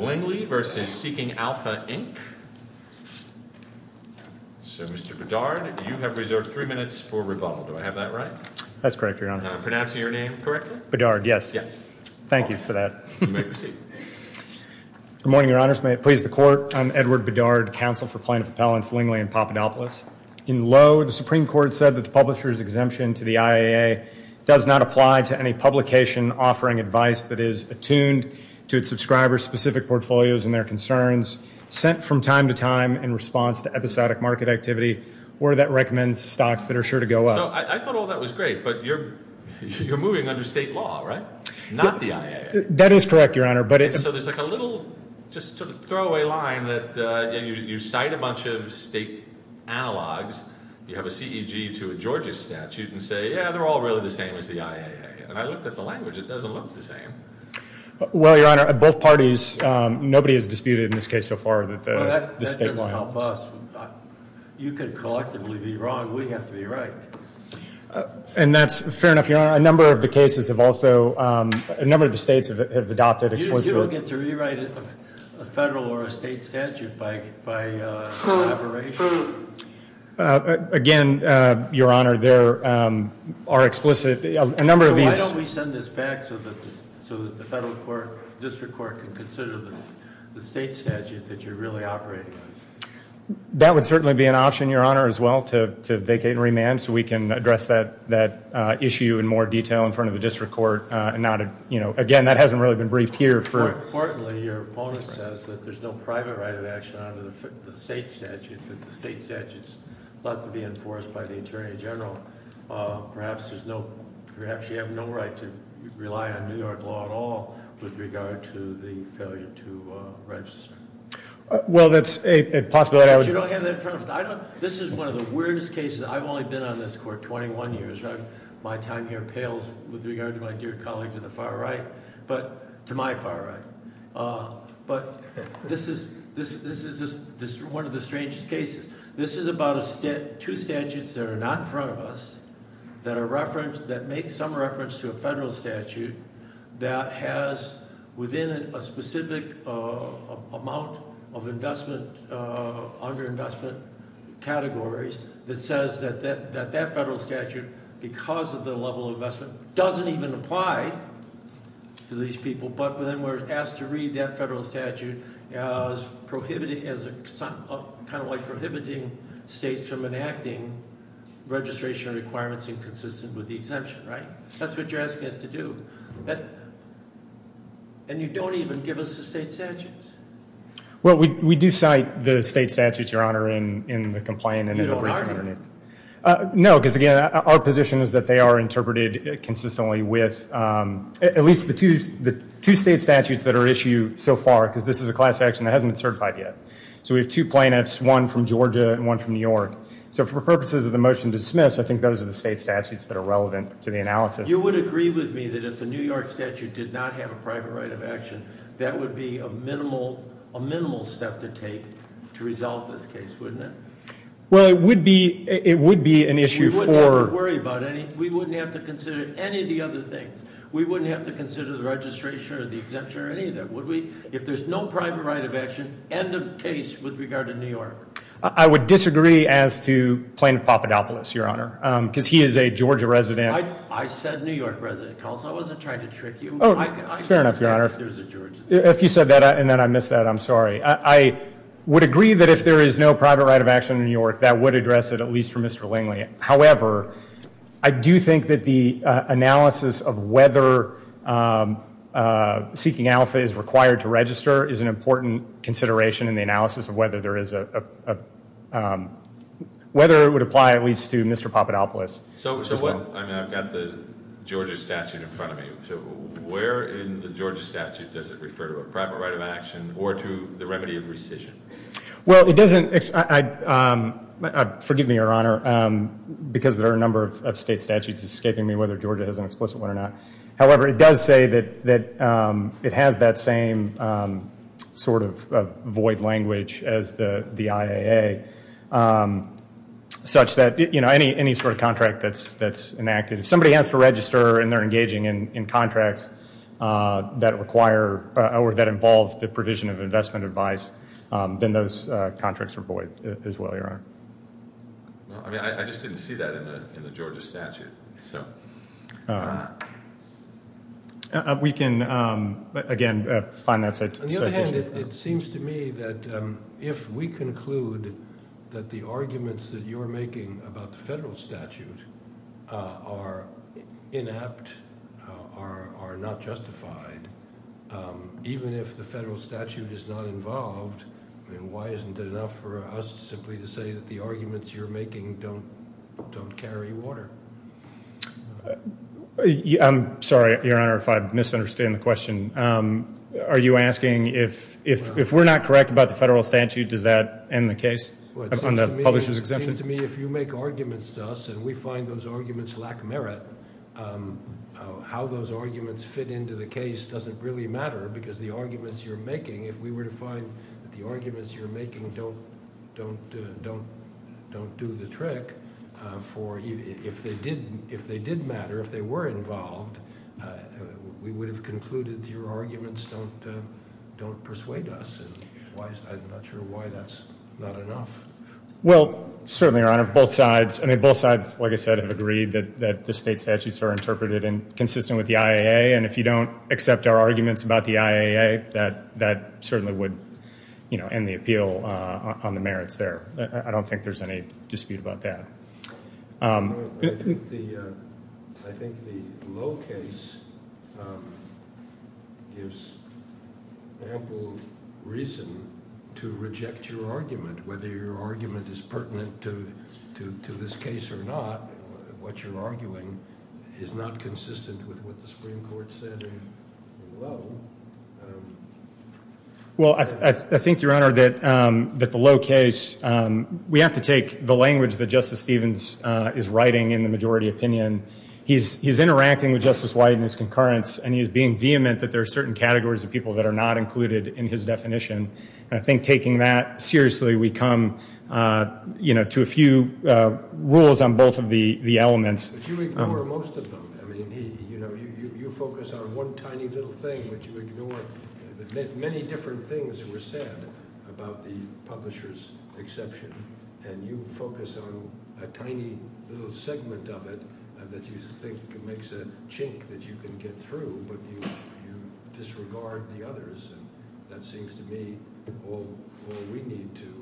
So Mr. Bedard, you have reserved three minutes for rebuttal. Do I have that right? That's correct, Your Honor. Am I pronouncing your name correctly? Bedard, yes. Yes. Thank you for that. You may proceed. Good morning, Your Honors. May it please the Court, I'm Edward Bedard, Counsel for Plaintiff Appellants Lingley and Papadopoulos. In Lowe, the Supreme Court said that the publisher's exemption to the IAA does not apply to any publication offering advice that is attuned to its subscriber's specific portfolios and their concerns sent from time to time in response to episodic market activity or that recommends stocks that are sure to go up. So I thought all that was great, but you're moving under state law, right? Not the IAA? That is correct, Your Honor. So there's like a little just sort of throwaway line that you cite a bunch of state analogs. You have a CEG to a Georgia statute and say, yeah, they're all really the same as the IAA. And I looked at the language. It doesn't look the same. Well, Your Honor, at both parties, nobody has disputed in this case so far that the state law helps. Well, that doesn't help us. You could collectively be wrong. We have to be right. And that's fair enough, Your Honor. A number of the cases have also, a number of the states have adopted explicitly. You don't get to rewrite a federal or a state statute by collaboration? Again, Your Honor, there are explicit, a number of these. So why don't we send this back so that the federal court, district court, can consider the state statute that you're really operating on? That would certainly be an option, Your Honor, as well, to vacate and remand so we can address that issue in more detail in front of the district court. Again, that hasn't really been briefed here. More importantly, your opponent says that there's no private right of action under the state statute, that the state statute is about to be enforced by the Attorney General. Perhaps you have no right to rely on New York law at all with regard to the failure to register. Well, that's a possibility. But you don't have that in front of us. This is one of the weirdest cases. I've only been on this court 21 years. My time here pales with regard to my dear colleague to the far right, to my far right. But this is one of the strangest cases. This is about two statutes that are not in front of us that make some reference to a federal statute that has within it a specific amount of investment, underinvestment categories, that says that that federal statute, because of the level of investment, doesn't even apply to these people. But then we're asked to read that federal statute as prohibiting states from enacting registration requirements inconsistent with the exemption. That's what you're asking us to do. And you don't even give us the state statutes. Well, we do cite the state statutes, Your Honor, in the complaint. You don't argue? No, because again, our position is that they are interpreted consistently with at least the two state statutes that are issued so far, because this is a class action that hasn't been certified yet. So we have two plaintiffs, one from Georgia and one from New York. So for purposes of the motion to dismiss, I think those are the state statutes that are relevant to the analysis. You would agree with me that if the New York statute did not have a private right of action, that would be a minimal step to take to resolve this case, wouldn't it? Well, it would be an issue for- We wouldn't have to worry about any, we wouldn't have to consider any of the other things. We wouldn't have to consider the registration or the exemption or any of that, would we? If there's no private right of action, end of case with regard to New York. I would disagree as to Plaintiff Papadopoulos, Your Honor, because he is a Georgia resident. I said New York resident, Coulson. I wasn't trying to trick you. Oh, fair enough, Your Honor. If you said that and then I missed that, I'm sorry. I would agree that if there is no private right of action in New York, that would address it, at least for Mr. Lingley. However, I do think that the analysis of whether seeking alpha is required to register is an important consideration in the analysis of whether there is a, whether it would apply at least to Mr. Papadopoulos. I've got the Georgia statute in front of me. Where in the Georgia statute does it refer to a private right of action or to the remedy of rescission? Well, it doesn't. Forgive me, Your Honor, because there are a number of state statutes escaping me, whether Georgia has an explicit one or not. However, it does say that it has that same sort of void language as the IAA, such that, you know, any sort of contract that's enacted. If somebody has to register and they're engaging in contracts that require or that involve the provision of investment advice, then those contracts are void as well, Your Honor. I mean, I just didn't see that in the Georgia statute. We can, again, find that citation. On the other hand, it seems to me that if we conclude that the arguments that you're making about the federal statute are inept, are not justified, even if the federal statute is not involved, why isn't it enough for us simply to say that the arguments you're making don't carry water? I'm sorry, Your Honor, if I misunderstand the question. Are you asking if we're not correct about the federal statute, does that end the case on the publisher's exemption? Well, it seems to me if you make arguments to us and we find those arguments lack merit, how those arguments fit into the case doesn't really matter because the arguments you're making, if we were to find that the arguments you're making don't do the trick, if they did matter, if they were involved, we would have concluded your arguments don't persuade us. I'm not sure why that's not enough. Well, certainly, Your Honor, both sides, like I said, have agreed that the state statutes are interpreted and consistent with the IAA. And if you don't accept our arguments about the IAA, that certainly would end the appeal on the merits there. I don't think there's any dispute about that. I think the Lowe case gives ample reason to reject your argument. Whether your argument is pertinent to this case or not, what you're arguing is not consistent with what the Supreme Court said in Lowe. Well, I think, Your Honor, that the Lowe case, we have to take the language that Justice Stevens is writing in the majority opinion. He's interacting with Justice White in his concurrence, and he's being vehement that there are certain categories of people that are not included in his definition. And I think taking that seriously, we come to a few rules on both of the elements. But you ignore most of them. You focus on one tiny little thing, but you ignore many different things that were said about the publisher's exception. And you focus on a tiny little segment of it that you think makes a chink that you can get through, but you disregard the others. And that seems to me all we need to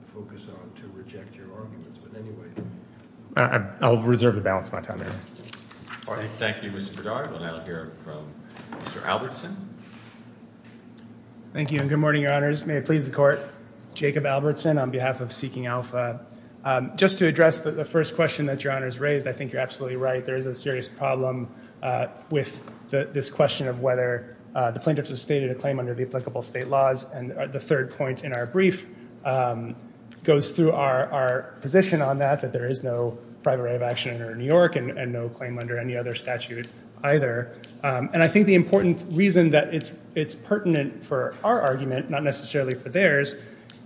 focus on to reject your arguments. I'll reserve the balance of my time, Your Honor. Thank you, Mr. Bedard. We'll now hear from Mr. Albertson. Thank you, and good morning, Your Honors. May it please the Court. Jacob Albertson on behalf of Seeking Alpha. Just to address the first question that Your Honors raised, I think you're absolutely right. There is a serious problem with this question of whether the plaintiffs have stated a claim under the applicable state laws. And the third point in our brief goes through our position on that, that there is no private right of action under New York and no claim under any other statute either. And I think the important reason that it's pertinent for our argument, not necessarily for theirs,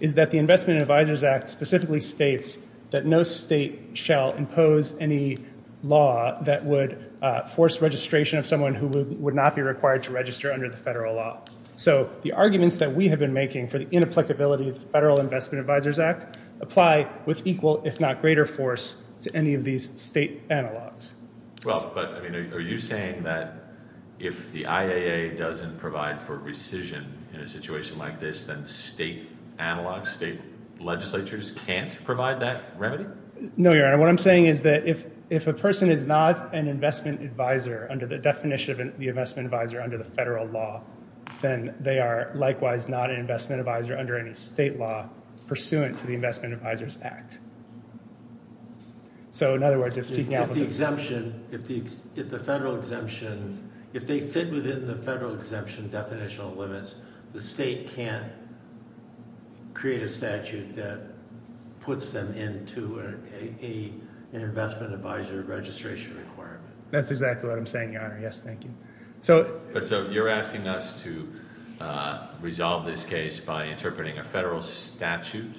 is that the Investment Advisors Act specifically states that no state shall impose any law that would force registration of someone who would not be required to register under the federal law. So the arguments that we have been making for the inapplicability of the Federal Investment Advisors Act apply with equal, if not greater, force to any of these state analogs. Well, but are you saying that if the IAA doesn't provide for rescission in a situation like this, then state analogs, state legislatures can't provide that remedy? No, Your Honor. Your Honor, what I'm saying is that if a person is not an investment advisor under the definition of the investment advisor under the federal law, then they are likewise not an investment advisor under any state law pursuant to the Investment Advisors Act. So in other words, if seeking out for the- If the exemption, if the federal exemption, if they fit within the federal exemption definitional limits, the state can't create a statute that puts them into an investment advisor registration requirement. That's exactly what I'm saying, Your Honor. Yes, thank you. But so you're asking us to resolve this case by interpreting a federal statute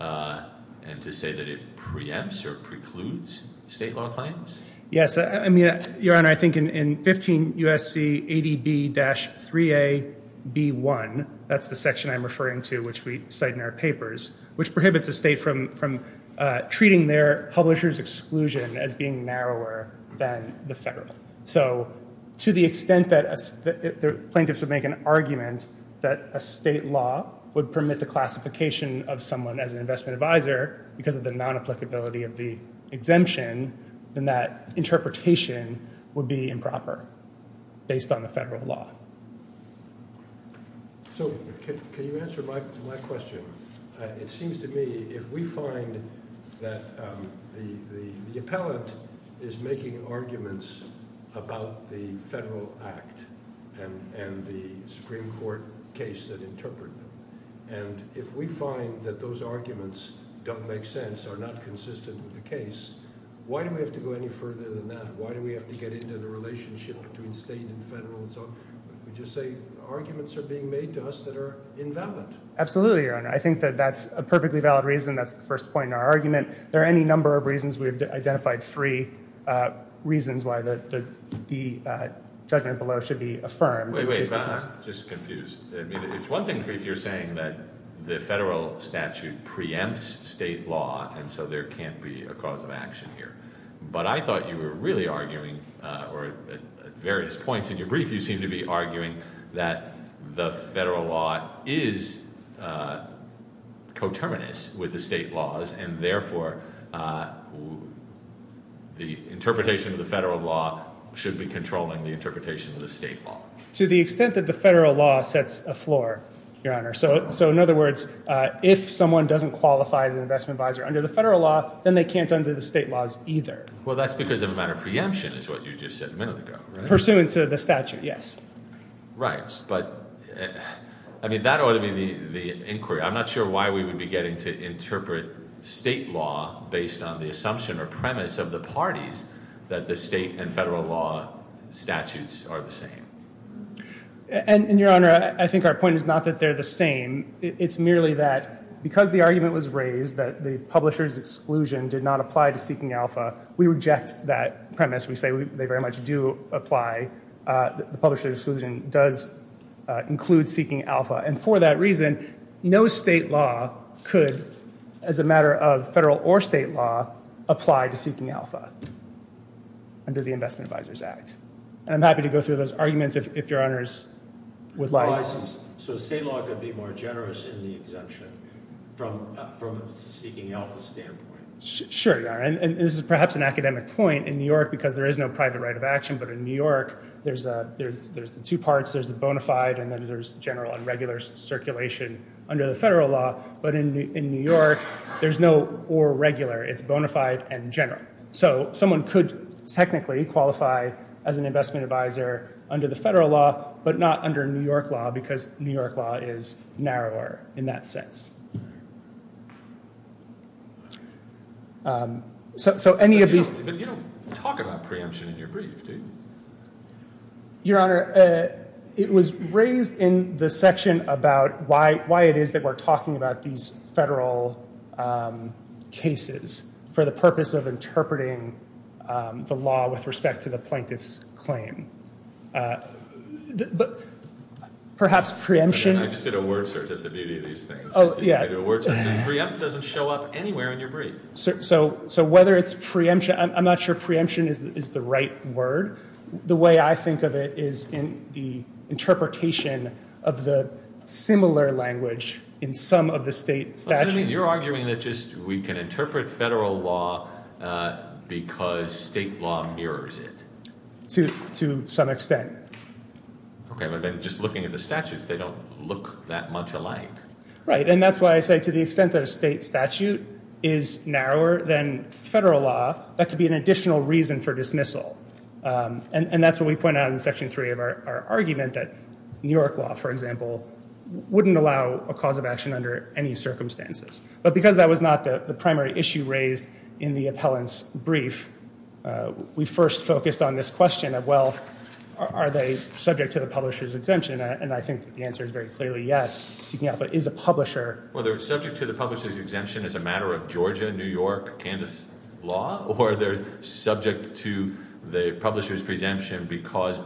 and to say that it preempts or precludes state law claims? Yes. I mean, Your Honor, I think in 15 U.S.C. ADB-3AB1, that's the section I'm referring to which we cite in our papers, which prohibits a state from treating their publisher's exclusion as being narrower than the federal. So to the extent that plaintiffs would make an argument that a state law would permit the classification of someone as an investment advisor because of the non-applicability of the exemption, then that interpretation would be improper based on the federal law. So can you answer my question? It seems to me if we find that the appellant is making arguments about the federal act and the Supreme Court case that interpreted them, and if we find that those arguments don't make sense, are not consistent with the case, why do we have to go any further than that? Why do we have to get into the relationship between state and federal and so on? Would you say arguments are being made to us that are invalid? Absolutely, Your Honor. I think that that's a perfectly valid reason. That's the first point in our argument. There are any number of reasons. We've identified three reasons why the judgment below should be affirmed. I'm just confused. It's one thing if you're saying that the federal statute preempts state law and so there can't be a cause of action here. But I thought you were really arguing or at various points in your brief you seem to be arguing that the federal law is coterminous with the state laws and therefore the interpretation of the federal law should be controlling the interpretation of the state law. To the extent that the federal law sets a floor, Your Honor. So in other words, if someone doesn't qualify as an investment advisor under the federal law, then they can't under the state laws either. Well, that's because of a matter of preemption is what you just said a minute ago. Pursuant to the statute, yes. Right. But I mean, that ought to be the inquiry. I'm not sure why we would be getting to interpret state law based on the assumption or premise of the parties that the state and federal law statutes are the same. And Your Honor, I think our point is not that they're the same. It's merely that because the argument was raised that the publisher's exclusion did not apply to Seeking Alpha, we reject that premise. We say they very much do apply. The publisher's exclusion does include Seeking Alpha. And for that reason, no state law could, as a matter of federal or state law, apply to Seeking Alpha under the Investment Advisors Act. And I'm happy to go through those arguments if Your Honors would like. So state law could be more generous in the exemption from a Seeking Alpha standpoint. Sure, Your Honor. And this is perhaps an academic point. In New York, because there is no private right of action, but in New York, there's the two parts. There's the bona fide and then there's general and regular circulation under the federal law. But in New York, there's no or regular. It's bona fide and general. So someone could technically qualify as an investment advisor under the federal law, but not under New York law because New York law is narrower in that sense. So any of these— But you don't talk about preemption in your brief, do you? Your Honor, it was raised in the section about why it is that we're talking about these federal cases for the purpose of interpreting the law with respect to the plaintiff's claim. But perhaps preemption— I just did a word search. That's the beauty of these things. Oh, yeah. I did a word search. Preempt doesn't show up anywhere in your brief. So whether it's preemption—I'm not sure preemption is the right word. The way I think of it is in the interpretation of the similar language in some of the state statutes. So you're arguing that just we can interpret federal law because state law mirrors it? To some extent. Okay. But then just looking at the statutes, they don't look that much alike. Right. And that's why I say to the extent that a state statute is narrower than federal law, that could be an additional reason for dismissal. And that's what we point out in Section 3 of our argument that New York law, for example, wouldn't allow a cause of action under any circumstances. But because that was not the primary issue raised in the appellant's brief, we first focused on this question of, well, are they subject to the publisher's exemption? And I think the answer is very clearly yes, seeking out if it is a publisher. Well, are they subject to the publisher's exemption as a matter of Georgia, New York, Kansas law? Or are they subject to the publisher's exemption because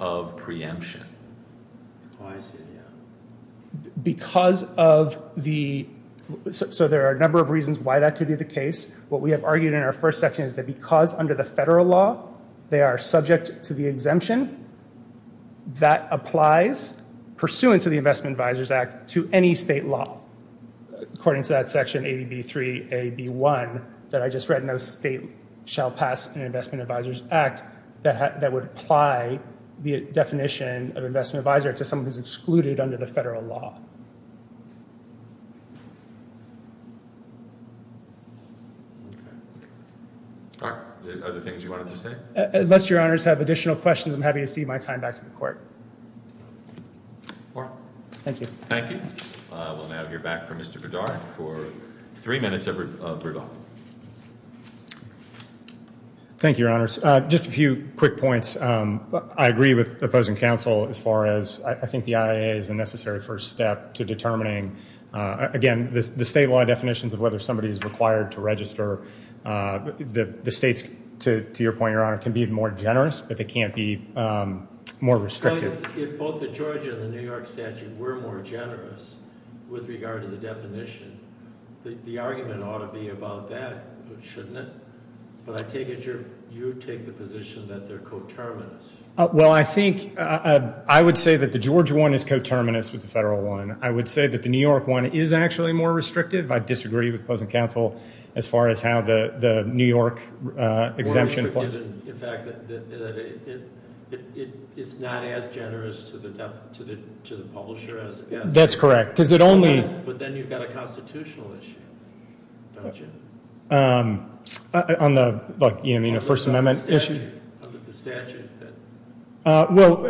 of preemption? Oh, I see. Yeah. Because of the—so there are a number of reasons why that could be the case. What we have argued in our first section is that because under the federal law they are subject to the exemption, that applies pursuant to the Investment Advisors Act to any state law. According to that section, AB3AB1, that I just read, no state shall pass an Investment Advisors Act that would apply the definition of investment advisor to someone who is excluded under the federal law. All right. Other things you wanted to say? Unless Your Honors have additional questions, I'm happy to cede my time back to the Court. All right. Thank you. Thank you. We'll now hear back from Mr. Verdar for three minutes of Verdar. Thank you, Your Honors. Just a few quick points. I agree with the opposing counsel as far as I think the IA is a necessary first step to determining, again, the state law definitions of whether somebody is required to register. The states, to your point, Your Honor, can be more generous, but they can't be more restrictive. If both the Georgia and the New York statute were more generous with regard to the definition, the argument ought to be about that, shouldn't it? But I take it you take the position that they're coterminous. Well, I think I would say that the Georgia one is coterminous with the federal one. I would say that the New York one is actually more restrictive. I disagree with opposing counsel as far as how the New York exemption applies. In fact, it's not as generous to the publisher as it is. That's correct. But then you've got a constitutional issue, don't you? On the First Amendment issue. Under the statute. Well,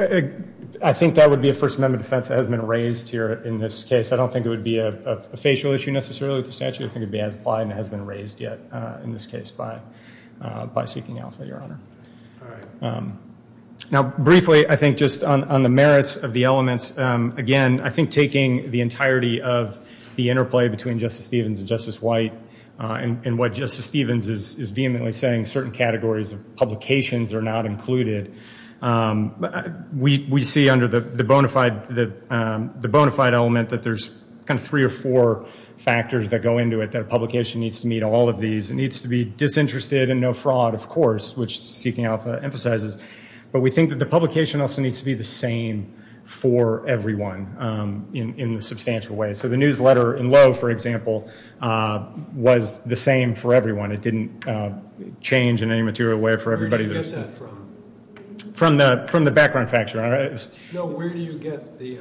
I think that would be a First Amendment offense that has been raised here in this case. I don't think it would be a facial issue necessarily with the statute. I think it would be as applied and has been raised yet in this case by seeking alpha, Your Honor. All right. Now, briefly, I think just on the merits of the elements, again, I think taking the entirety of the interplay between Justice Stevens and Justice White and what Justice Stevens is vehemently saying, certain categories of publications are not included. We see under the bona fide element that there's kind of three or four factors that go into it, that a publication needs to meet all of these. It needs to be disinterested and no fraud, of course, which seeking alpha emphasizes. But we think that the publication also needs to be the same for everyone in a substantial way. So the newsletter in Lowe, for example, was the same for everyone. It didn't change in any material way for everybody. Where do you get that from? From the background factor. No, where do you get the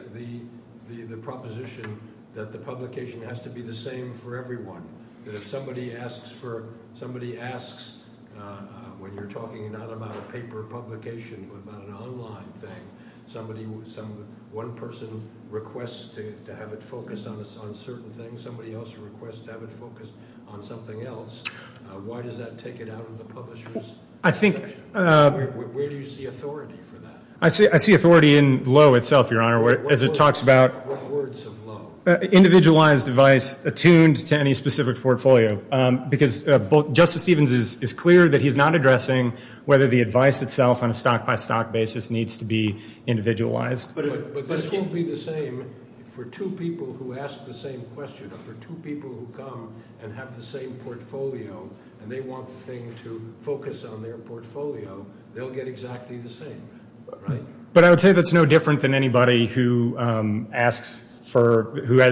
proposition that the publication has to be the same for everyone? If somebody asks when you're talking not about a paper publication but about an online thing, one person requests to have it focus on a certain thing, somebody else requests to have it focus on something else, why does that take it out of the publisher's description? Where do you see authority for that? I see authority in Lowe itself, Your Honor. What words of Lowe? Individualized advice attuned to any specific portfolio, because Justice Stevens is clear that he's not addressing whether the advice itself on a stock-by-stock basis needs to be individualized. But this won't be the same for two people who ask the same question or for two people who come and have the same portfolio and they want the thing to focus on their portfolio. They'll get exactly the same, right? But I would say that's no different than anybody who has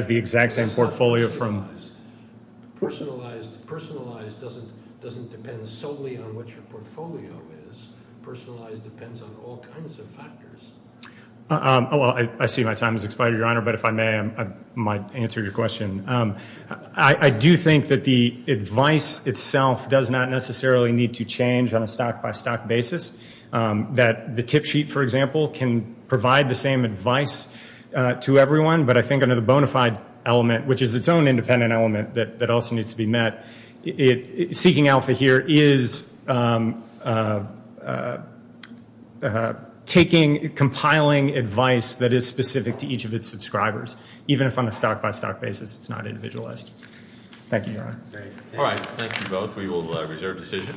the exact same portfolio. Personalized doesn't depend solely on what your portfolio is. Personalized depends on all kinds of factors. I see my time has expired, Your Honor, but if I may, I might answer your question. I do think that the advice itself does not necessarily need to change on a stock-by-stock basis. That the tip sheet, for example, can provide the same advice to everyone, but I think under the bona fide element, which is its own independent element that also needs to be met, seeking alpha here is taking, compiling advice that is specific to each of its subscribers, even if on a stock-by-stock basis it's not individualized. Thank you, Your Honor. All right, thank you both. We will reserve decision.